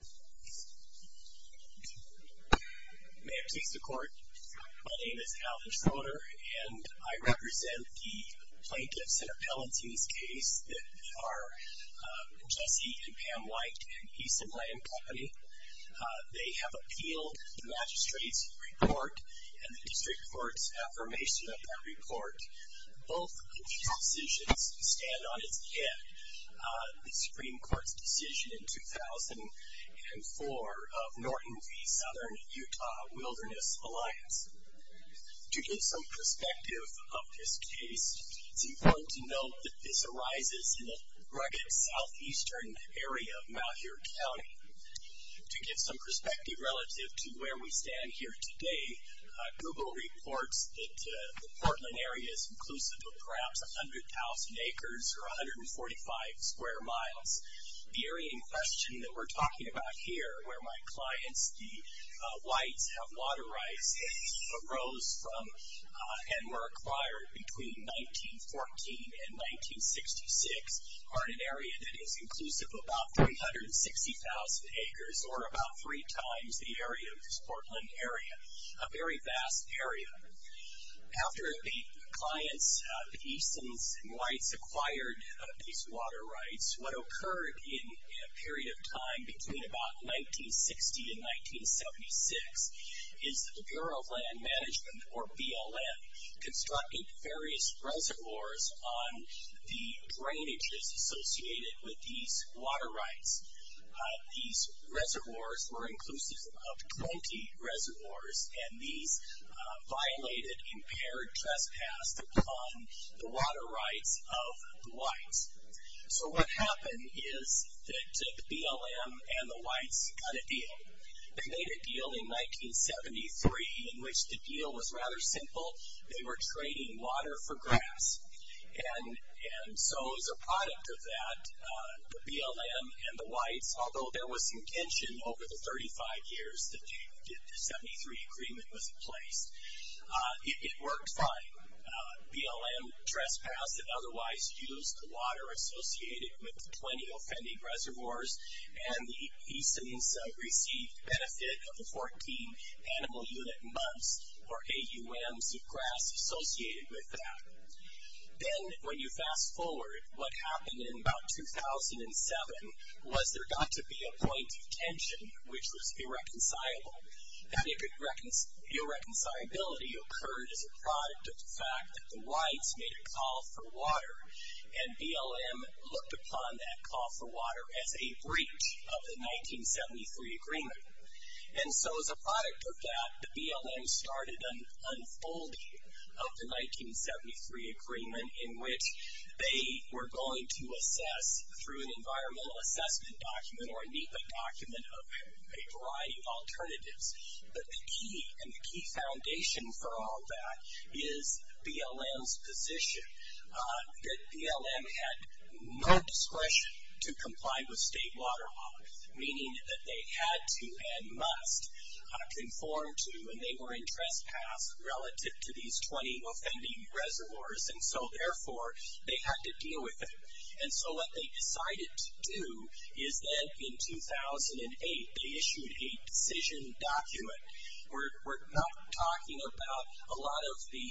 May it please the Court, my name is Alvin Schroeder, and I represent the Plaintiffs and Appellants in this case that are Jesse and Pam White and Eason Land Co. They have appealed the Magistrate's report and the District Court's affirmation of that report. Both these decisions stand on its head. The Supreme Court's decision in 2004 of Norton v. Southern Utah Wilderness Alliance. To give some perspective of this case, it's important to note that this arises in a rugged southeastern area of Malheur County. To give some perspective relative to where we stand here today, Google reports that the Portland area is inclusive of perhaps 100,000 acres or 145 square miles. The area in question that we're talking about here, where my clients, the Whites, have water rights that arose from and were acquired between 1914 and 1966, are in an area that is inclusive of about 360,000 acres or about three times the area of this Portland area. A very vast area. After the clients, Eason's Whites, acquired these water rights, what occurred in a period of time between about 1960 and 1976 is that the Bureau of Land Management, or BLM, constructed various reservoirs on the drainages associated with these water rights. These reservoirs were inclusive of 20 reservoirs, and these violated impaired trespass upon the water rights of the Whites. So what happened is that the BLM and the Whites got a deal. They made a deal in 1973 in which the deal was rather simple. They were trading water for grass. And so as a product of that, the BLM and the Whites, although there was some tension over the 35 years that the 1973 agreement was in place, it worked fine. BLM trespassed and otherwise used the water associated with the 20 offending reservoirs, and the Easons received benefit of the 14 animal unit months, or AUMs, of grass associated with that. Then, when you fast forward, what happened in about 2007 was there got to be a point of tension which was irreconcilable. That irreconcilability occurred as a product of the fact that the Whites made a call for water, and BLM looked upon that call for water as a breach of the 1973 agreement. And so as a product of that, the BLM started an unfolding of the 1973 agreement in which they were going to assess through an environmental assessment document or a NEPA document of a variety of alternatives. But the key and the key foundation for all that is BLM's position. That BLM had no discretion to comply with state water laws, meaning that they had to and must conform to when they were in trespass relative to these 20 offending reservoirs. And so therefore, they had to deal with it. And so what they decided to do is that in 2008, they issued a decision document. We're not talking about a lot of the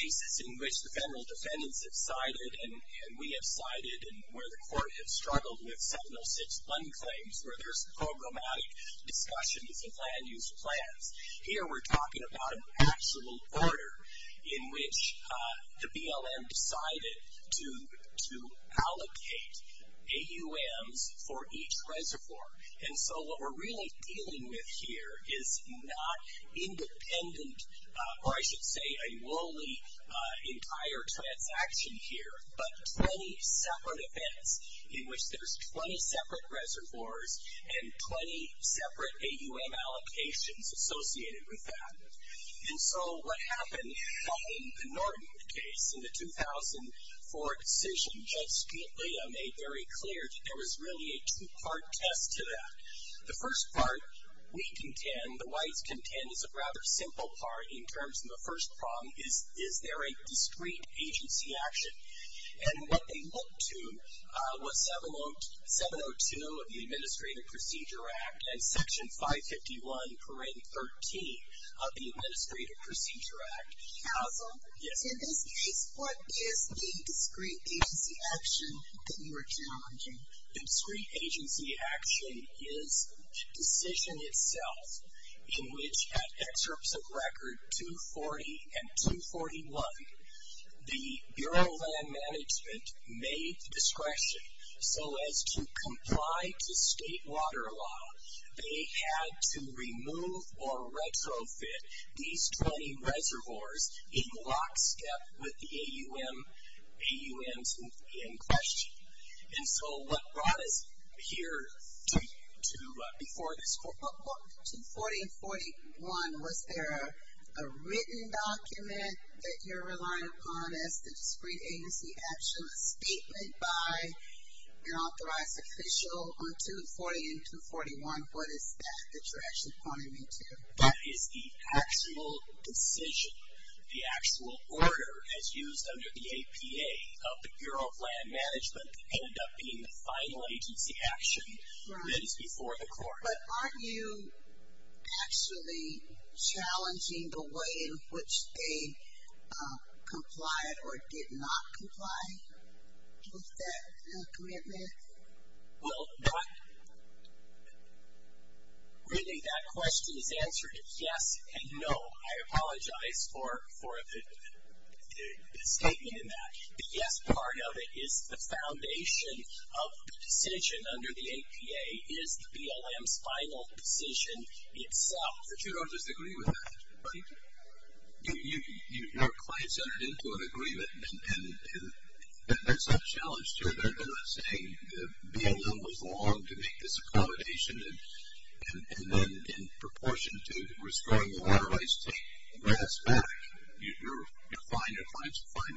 cases in which the federal defendants have sided, and we have sided, and where the court has struggled with 7061 claims where there's programmatic discussions of land use plans. Here we're talking about an actual order in which the BLM decided to allocate AUMs for each reservoir. And so what we're really dealing with here is not independent, or I should say a lowly entire transaction here, but 20 separate events in which there's 20 separate reservoirs and 20 separate AUM allocations associated with that. And so what happened in the Norton case in the 2004 decision, Judge Scalia made very clear that there was really a two-part test to that. The first part, we contend, the whites contend, is a rather simple part in terms of the first problem, is there a discrete agency action? And what they looked to was 702 of the Administrative Procedure Act and Section 551.13 of the Administrative Procedure Act. Counsel? Yes. In this case, what is the discrete agency action that you are challenging? The discrete agency action is the decision itself in which, at excerpts of record 240 and 241, the Bureau of Land Management made the discretion so as to comply to state water law, they had to remove or retrofit these 20 reservoirs in lockstep with the AUMs in question. And so what brought us here before this court? On 240 and 241, was there a written document that you're relying upon as the discrete agency action, a statement by an authorized official on 240 and 241? What is that that you're actually pointing me to? That is the actual decision, the actual order as used under the APA of the Bureau of Land Management ended up being the final agency action that is before the court. But aren't you actually challenging the way in which they complied or did not comply with that commitment? Well, not really. That question is answered yes and no. I apologize for the statement in that. The yes part of it is the foundation of the decision under the APA is the BLM's final decision itself. But you don't disagree with that. You're client-centered into an agreement, and that's not challenged here. They're not saying the BLM was wrong to make this accommodation, and then in proportion to rescoring the authorized to grant us back, you're fine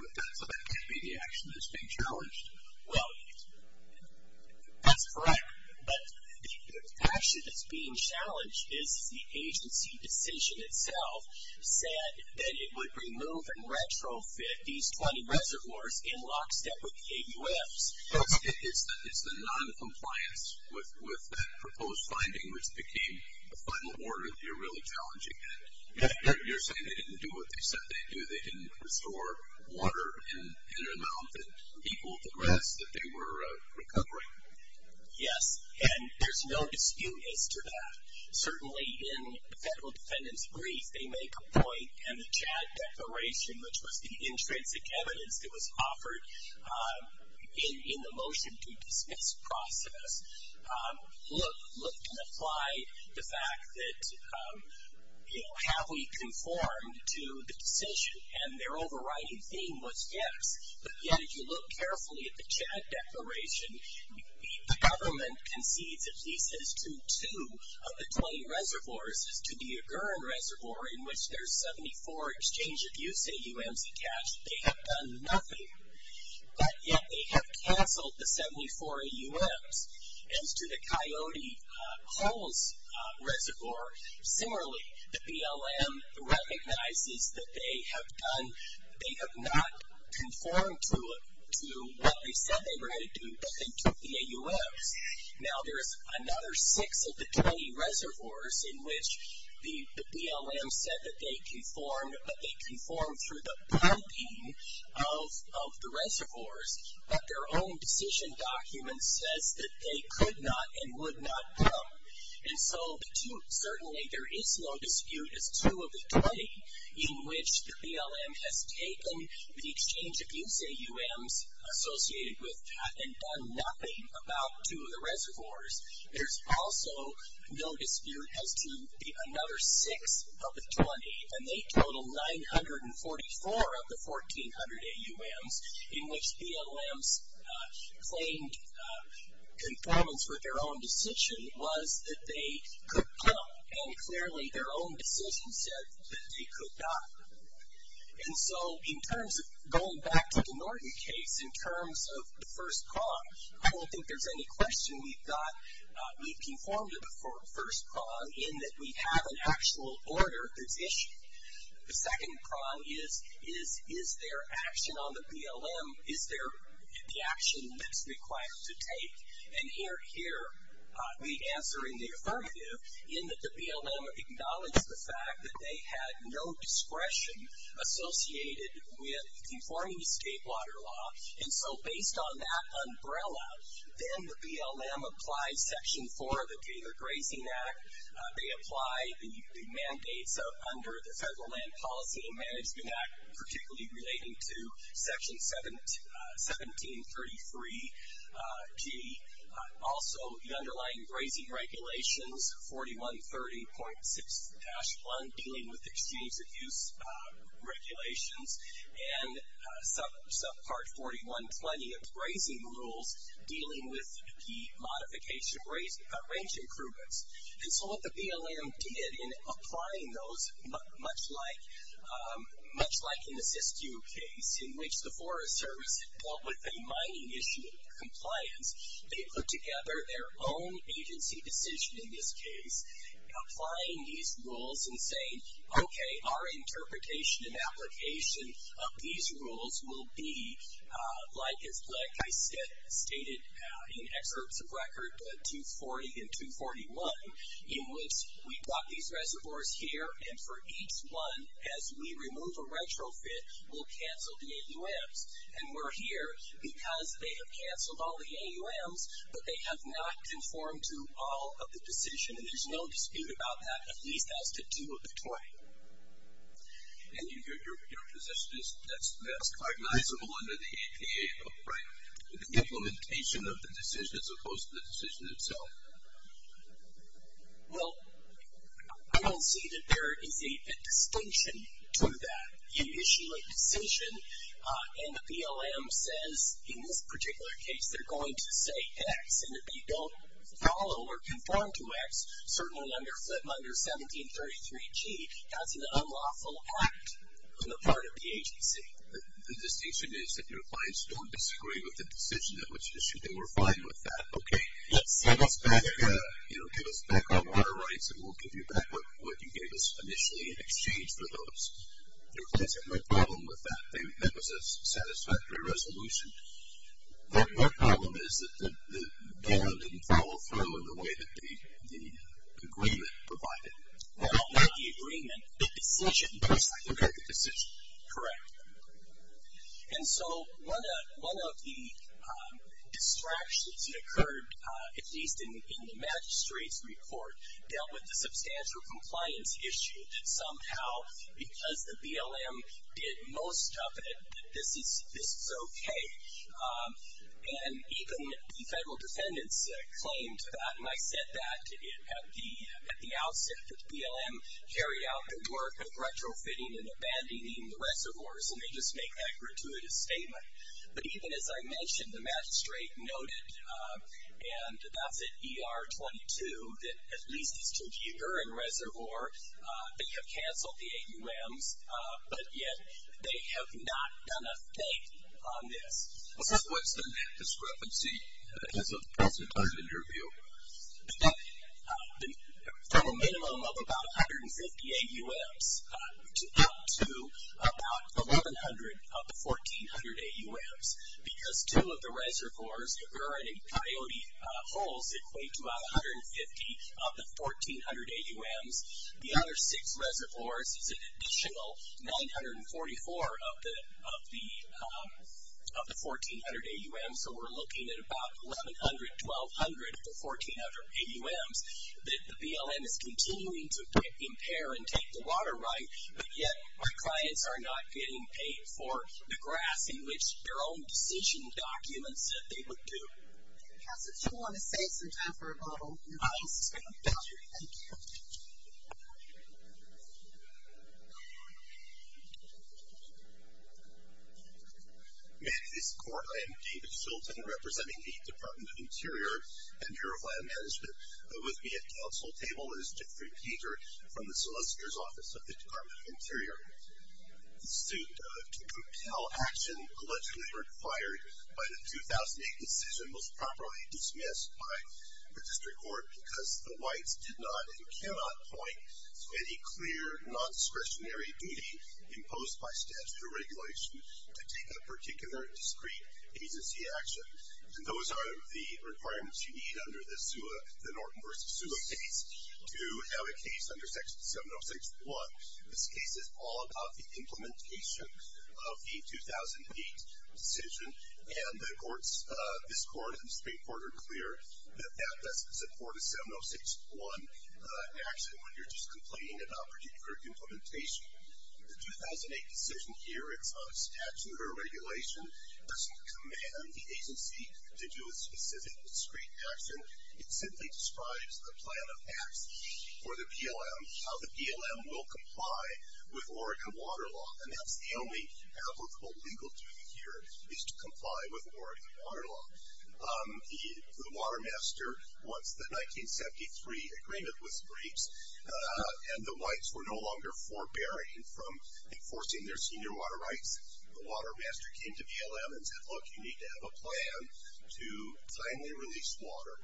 with that. So that can't be the action that's being challenged. Well, that's correct. But the action that's being challenged is the agency decision itself said that it would remove and retrofit these 20 reservoirs in lockstep with the AUFs. It's the noncompliance with that proposed finding which became the final order. You're really challenging that. You're saying they didn't do what they said they'd do. They didn't restore water in an amount that equaled the rest that they were recovering. Yes, and there's no dispute as to that. Certainly, in the federal defendant's brief, they make a point, and the Chad Declaration, which was the intrinsic evidence that was offered in the motion to dismiss process, looked and applied the fact that, you know, have we conformed to the decision? And their overriding theme was yes. But yet, if you look carefully at the Chad Declaration, the government concedes at least as to two of the 20 reservoirs as to the Aguran Reservoir in which there's 74 exchange-of-use AUFs attached. They have done nothing. But yet, they have canceled the 74 AUFs. As to the Coyote Holes Reservoir, similarly, the BLM recognizes that they have done, they have not conformed to what they said they were going to do, but they took the AUFs. Now, there's another six of the 20 reservoirs in which the BLM said that they conformed, but they conformed through the pumping of the reservoirs. But their own decision document says that they could not and would not come. And so, certainly, there is no dispute as to the 20 in which the BLM has taken the exchange-of-use AUFs associated with that and done nothing about two of the reservoirs. There's also no dispute as to another six of the 20. And they total 944 of the 1,400 AUFs in which BLM's claimed conformance with their own decision was that they could come. And clearly, their own decision said that they could not. And so, in terms of going back to the Norton case, in terms of the first prong, I don't think there's any question we've conformed to the first prong in that we have an actual order that's issued. The second prong is, is there action on the BLM, is there the action that's required to take? And here, we answer in the affirmative in that the BLM acknowledged the fact that they had no discretion associated with conforming to state water law. And so, based on that umbrella, then the BLM applies Section 4 of the Gator Grazing Act. They apply the mandates under the Federal Land Policy and Management Act, particularly relating to Section 1733G. Also, the underlying grazing regulations, 4130.6-1, dealing with the exchange of use regulations, and subpart 4120 of grazing rules, dealing with the modification range improvements. And so, what the BLM did in applying those, much like in the Siskiyou case, in which the Forest Service dealt with a mining issue of compliance, they put together their own agency decision in this case, applying these rules and saying, okay, our interpretation and application of these rules will be like I stated in excerpts of record 240 and 241, in which we brought these reservoirs here, and for each one, as we remove a retrofit, we'll cancel the AUMs, and we're here because they have canceled all the AUMs, but they have not conformed to all of the decision, and there's no dispute about that, at least as to do of the 20. And your position is that's recognizable under the APA, right? The implementation of the decision as opposed to the decision itself. Well, I don't see that there is a distinction to that. You issue a decision, and the BLM says, in this particular case, they're going to say X, and if you don't follow or conform to X, certainly under 1733G, that's an unlawful act on the part of the agency. The distinction is that your clients don't disagree with the decision at which issue. They were fine with that. Okay. Yes. Give us back our rights, and we'll give you back what you gave us initially in exchange for those. Your clients had no problem with that. That was a satisfactory resolution. Their problem is that the BLM didn't follow through in the way that the agreement provided. Well, not the agreement, the decision. Okay, the decision. Correct. And so one of the distractions that occurred, at least in the magistrate's report, dealt with the substantial compliance issue somehow, because the BLM did most of it, that this is okay. And even the federal defendants claimed that, and I said that at the outset, that the BLM carried out the work of retrofitting and abandoning the reservoirs, and they just make that gratuitous statement. But even as I mentioned, the magistrate noted, and that's at ER-22, that at least the St. Jehuguerin Reservoir, they have canceled the AUMs, but yet they have not done a thing on this. What's the discrepancy as of the present time in your view? From a minimum of about 150 AUMs up to about 1,100 of the 1,400 AUMs, because two of the reservoirs, the Erwin and Coyote holes, equate to about 150 of the 1,400 AUMs. The other six reservoirs is an additional 944 of the 1,400 AUMs, so we're looking at about 1,100, 1,200 of the 1,400 AUMs. The BLM is continuing to impair and take the water right, but yet our clients are not getting paid for the grass in which their own decision documents that they would do. Counselor, do you want to save some time for a bottle? Yes. Thank you. Thank you. May it please the Court, I am David Shultz. I'm representing the Department of Interior and Bureau of Land Management. With me at counsel table is Jeffrey Peter from the Solicitor's Office of the Department of Interior. The suit to compel action allegedly required by the 2008 decision was properly dismissed by the district court because the whites did not and cannot point to any clear nondiscretionary duty imposed by statutory regulation to take a particular discrete agency action. And those are the requirements you need under the Norton v. Sua case to have a case under Section 706.1. This case is all about the implementation of the 2008 decision, and this Court and the Supreme Court are clear that that doesn't support a 706.1 action when you're just complaining about particular implementation. The 2008 decision here, it's not a statute or a regulation. It doesn't command the agency to do a specific discrete action. It simply describes the plan of acts for the BLM, how the BLM will comply with Oregon water law. And that's the only applicable legal duty here is to comply with Oregon water law. The water master, once the 1973 agreement was breached, and the whites were no longer forbearing from enforcing their senior water rights, the water master came to BLM and said, look, you need to have a plan to timely release water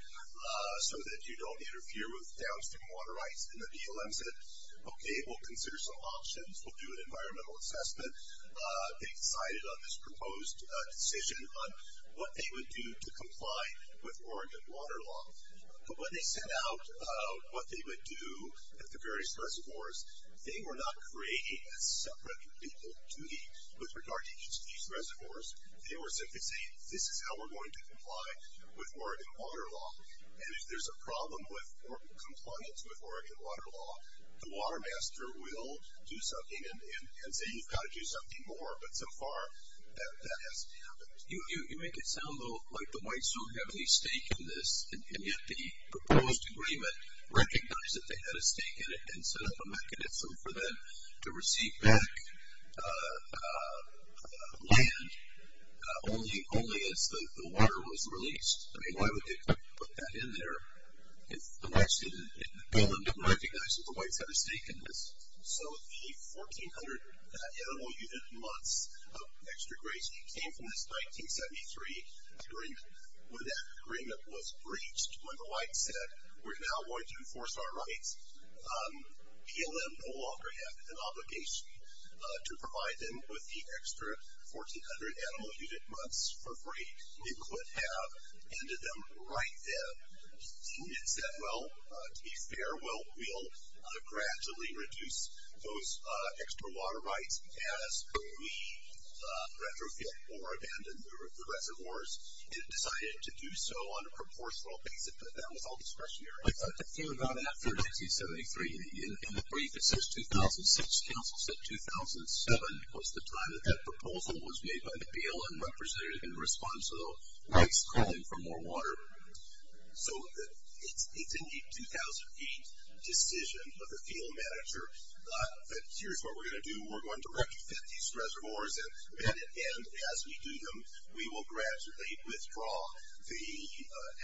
so that you don't interfere with downstream water rights. And the BLM said, okay, we'll consider some options. We'll do an environmental assessment. They decided on this proposed decision on what they would do to comply with Oregon water law. But when they set out what they would do at the various reservoirs, they were not creating a separate legal duty with regard to each of these reservoirs. They were simply saying, this is how we're going to comply with Oregon water law. And if there's a problem with or compliance with Oregon water law, the water master will do something and say you've got to do something more. But so far, that hasn't happened. You make it sound, though, like the whites don't have any stake in this, and yet the proposed agreement recognized that they had a stake in it and set up a mechanism for them to receive back land only as the water was released. I mean, why would they put that in there if the whites didn't, if the BLM didn't recognize that the whites had a stake in this? So the 1,400 animal unit months of extra grace came from this 1973 agreement. When that agreement was breached, when the whites said we're now going to enforce our rights, BLM no longer had an obligation to provide them with the extra 1,400 animal unit months for free. It could have ended them right then. It said, well, to be fair, we'll gradually reduce those extra water rights as we retrofit or abandon the reservoirs. It decided to do so on a proportional basis, but that was all discretionary. I thought the thing about after 1973, in the brief, it says 2006. Council said 2007 was the time that that proposal was made by the BLM representative in response to the whites calling for more water. So it's in the 2008 decision of the field manager that here's what we're going to do. We're going to retrofit these reservoirs, and as we do them, we will gradually withdraw the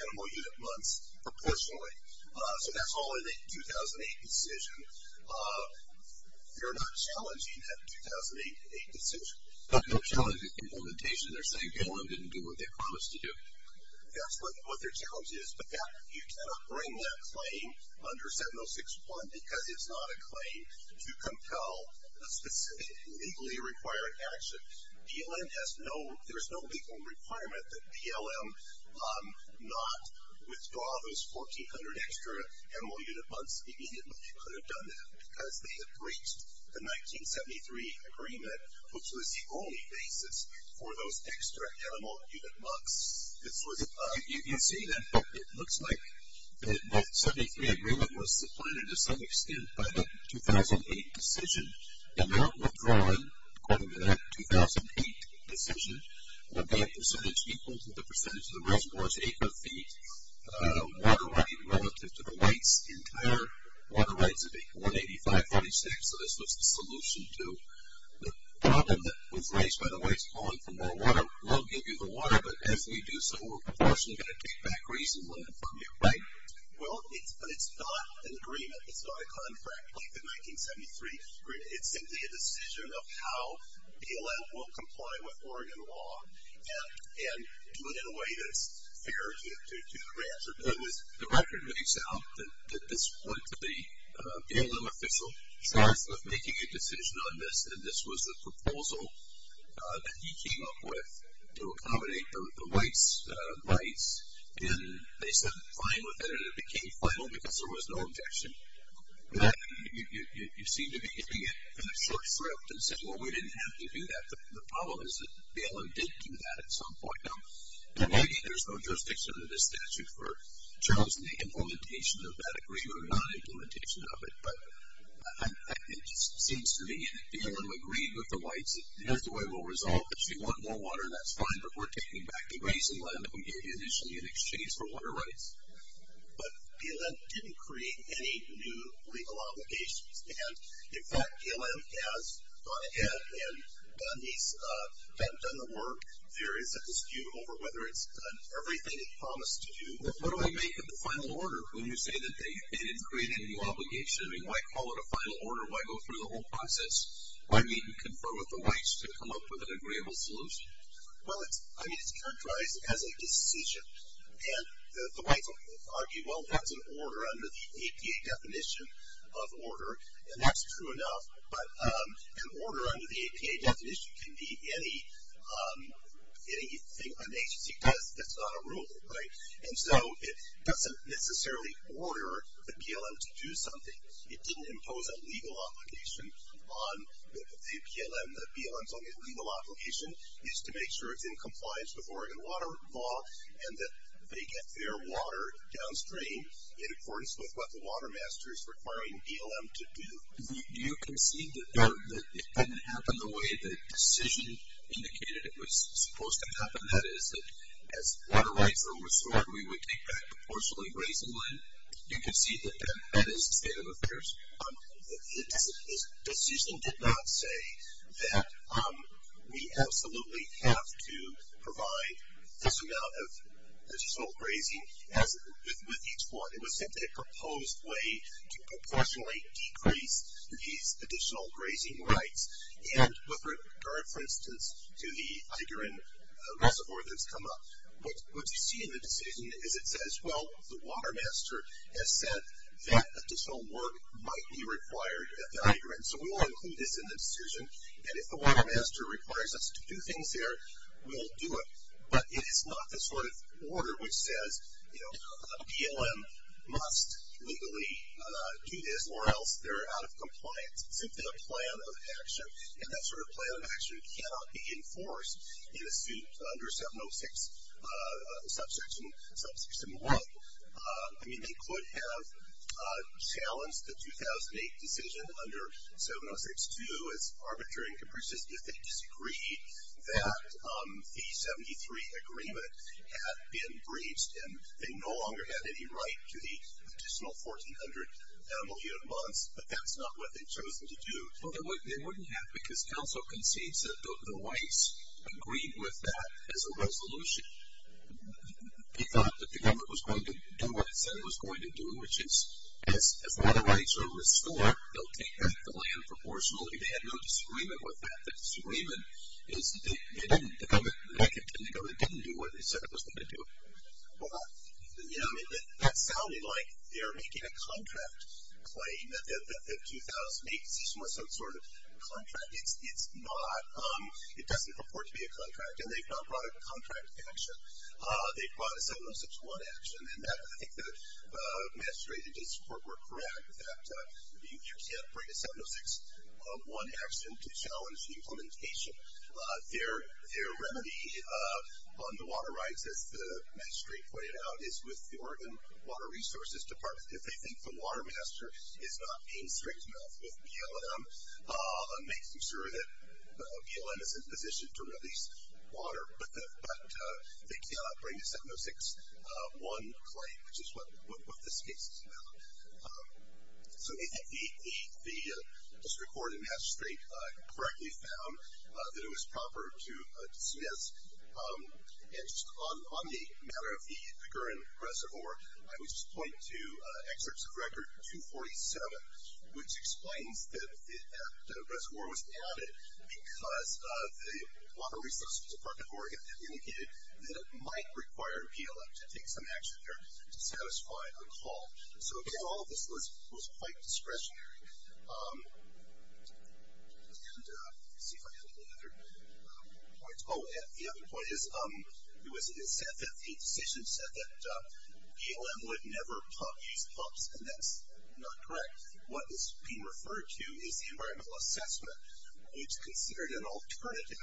animal unit months proportionally. So that's all in the 2008 decision. They're not challenging that 2008 decision. No challenging implementation. They're saying BLM didn't do what they promised to do. That's what their challenge is, but you cannot bring that claim under 706.1 because it's not a claim to compel a specific legally required action. BLM has no, there's no legal requirement that BLM not withdraw those 1,400 extra animal unit months immediately. BLM could have done that because they had breached the 1973 agreement, which was the only basis for those extra animal unit months. You can see that it looks like the 1973 agreement was supplanted to some extent by the 2008 decision. The amount withdrawn, according to that 2008 decision, would be a percentage equal to the percentage of the reservoirs' acre feet. The water right relative to the weights, the entire water rights would be 185.46, so this was the solution to the problem that was raised by the weights, calling for more water. We'll give you the water, but as we do so, we're proportionally going to take back reason from you, right? Well, it's not an agreement. It's not a contract like the 1973 agreement. It's simply a decision of how BLM will comply with Oregon law and do it in a way that's fair to the rancher. The record makes out that this went to the BLM official. Charles was making a decision on this, and this was the proposal that he came up with to accommodate the weights, and they said fine with it, and it became final because there was no objection. You seem to be getting it in a short script and saying, well, we didn't have to do that. The problem is that BLM did do that at some point. Now, there's no jurisdiction under this statute for Charles and the implementation of that agreement or non-implementation of it, but it just seems to me that BLM agreed with the weights. Here's the way we'll resolve it. If you want more water, that's fine, but we're taking back the grazing land that we gave you initially in exchange for water rights. But BLM didn't create any new legal obligations, and, in fact, BLM has gone ahead and done the work. There is a dispute over whether it's done everything it promised to do. What do I make of the final order when you say that they didn't create any new obligation? I mean, why call it a final order? Why go through the whole process? Why meet and confer with the weights to come up with an agreeable solution? Well, I mean, it's characterized as a decision, and the weights argue, well, that's an order under the APA definition of order, and that's true enough, but an order under the APA definition can be anything an agency does that's not a rule, right? And so it doesn't necessarily order the BLM to do something. It didn't impose a legal obligation on the BLM. The BLM's only legal obligation is to make sure it's in compliance with Oregon water law and that they get their water downstream in accordance with what the water master is requiring BLM to do. Do you concede that it didn't happen the way the decision indicated it was supposed to happen, that is, that as water rights were restored, we would take back proportionally raising land? Do you concede that that is the state of affairs? The decision did not say that we absolutely have to provide this amount of additional grazing with each one. It was simply a proposed way to proportionally decrease these additional grazing rights, and with regard, for instance, to the Igeran Reservoir that's come up, what you see in the decision is it says, well, the water master has said that additional work might be required at the Igeran, so we will include this in the decision, and if the water master requires us to do things there, we'll do it. But it is not the sort of order which says, you know, a BLM must legally do this or else they're out of compliance, simply a plan of action, and that sort of plan of action cannot be enforced in a suit under 706 Subsection 1. I mean, they could have challenged the 2008 decision under 706-2 as arbitrary and capricious if they disagreed that the 73 agreement had been breached, and they no longer had any right to the additional 1,400 million months, but that's not what they've chosen to do. Well, they wouldn't have, because counsel concedes that the rights agreed with that as a resolution. He thought that the government was going to do what it said it was going to do, which is if all the rights are restored, they'll take back the land proportionally. They had no disagreement with that. The disagreement is they didn't, the government, the government didn't do what it said it was going to do. Yeah, I mean, that sounded like they're making a contract claim that the 2008 decision was some sort of contract. It's not. It doesn't purport to be a contract, and they've not brought a contract action. They've brought a 706-1 action, and I think the magistrate and district court were correct that you can't bring a 706-1 action to challenge the implementation. Their remedy on the water rights, as the magistrate pointed out, is with the Oregon Water Resources Department. If they think the water master is not being strict enough with BLM, makes them sure that BLM is in position to release water, but they cannot bring a 706-1 claim, which is what this case is about. So I think the district court and magistrate correctly found that it was proper to dismiss. And just on the matter of the current reservoir, I would just point to excerpts of Record 247, which explains that the reservoir was added because the Water Resources Department of Oregon had indicated that it might require BLM to take some action there to satisfy a call. So, again, all of this was quite discretionary. And let's see if I have any other points. Oh, and the other point is it was said that the decision said that BLM would never pump these pumps, and that's not correct. What is being referred to is the environmental assessment, which considered an alternative,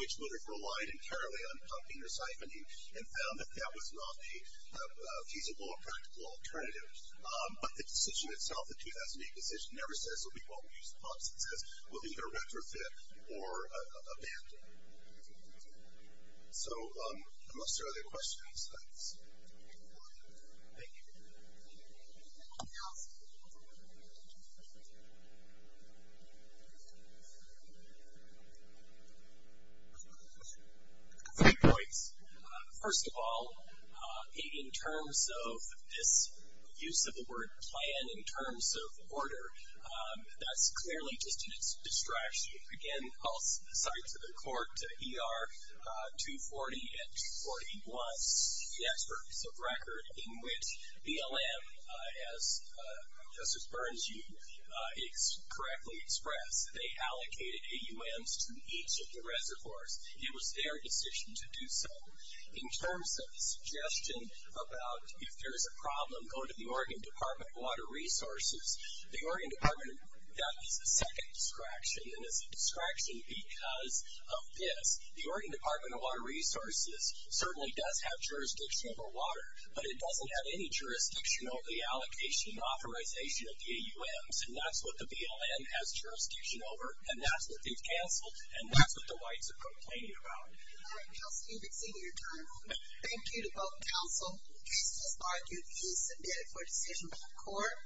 which would have relied entirely on pumping or siphoning, and found that that was not a feasible or practical alternative. But the decision itself, the 2008 decision, never says that we won't use pumps. It says we'll either retrofit or abandon. So unless there are other questions, thanks. Thank you. Anything else? Okay. Three points. First of all, in terms of this use of the word plan in terms of order, that's clearly just a distraction. Again, all sides of the court, ER 240 and 240 was the experts of record in which BLM, as Justice Burns correctly expressed, they allocated AUMs to each of the reservoirs. It was their decision to do so. In terms of the suggestion about if there's a problem, go to the Oregon Department of Water Resources. The Oregon Department of Water Resources, that is a second distraction, and it's a distraction because of this. The Oregon Department of Water Resources certainly does have jurisdiction over water, but it doesn't have any jurisdiction over the allocation and authorization of the AUMs, and that's what the BLM has jurisdiction over, and that's what they've canceled, and that's what the whites are complaining about. All right, Kelsey, you've exceeded your time. Thank you to both counsel. This is argued to be submitted for decision by the court.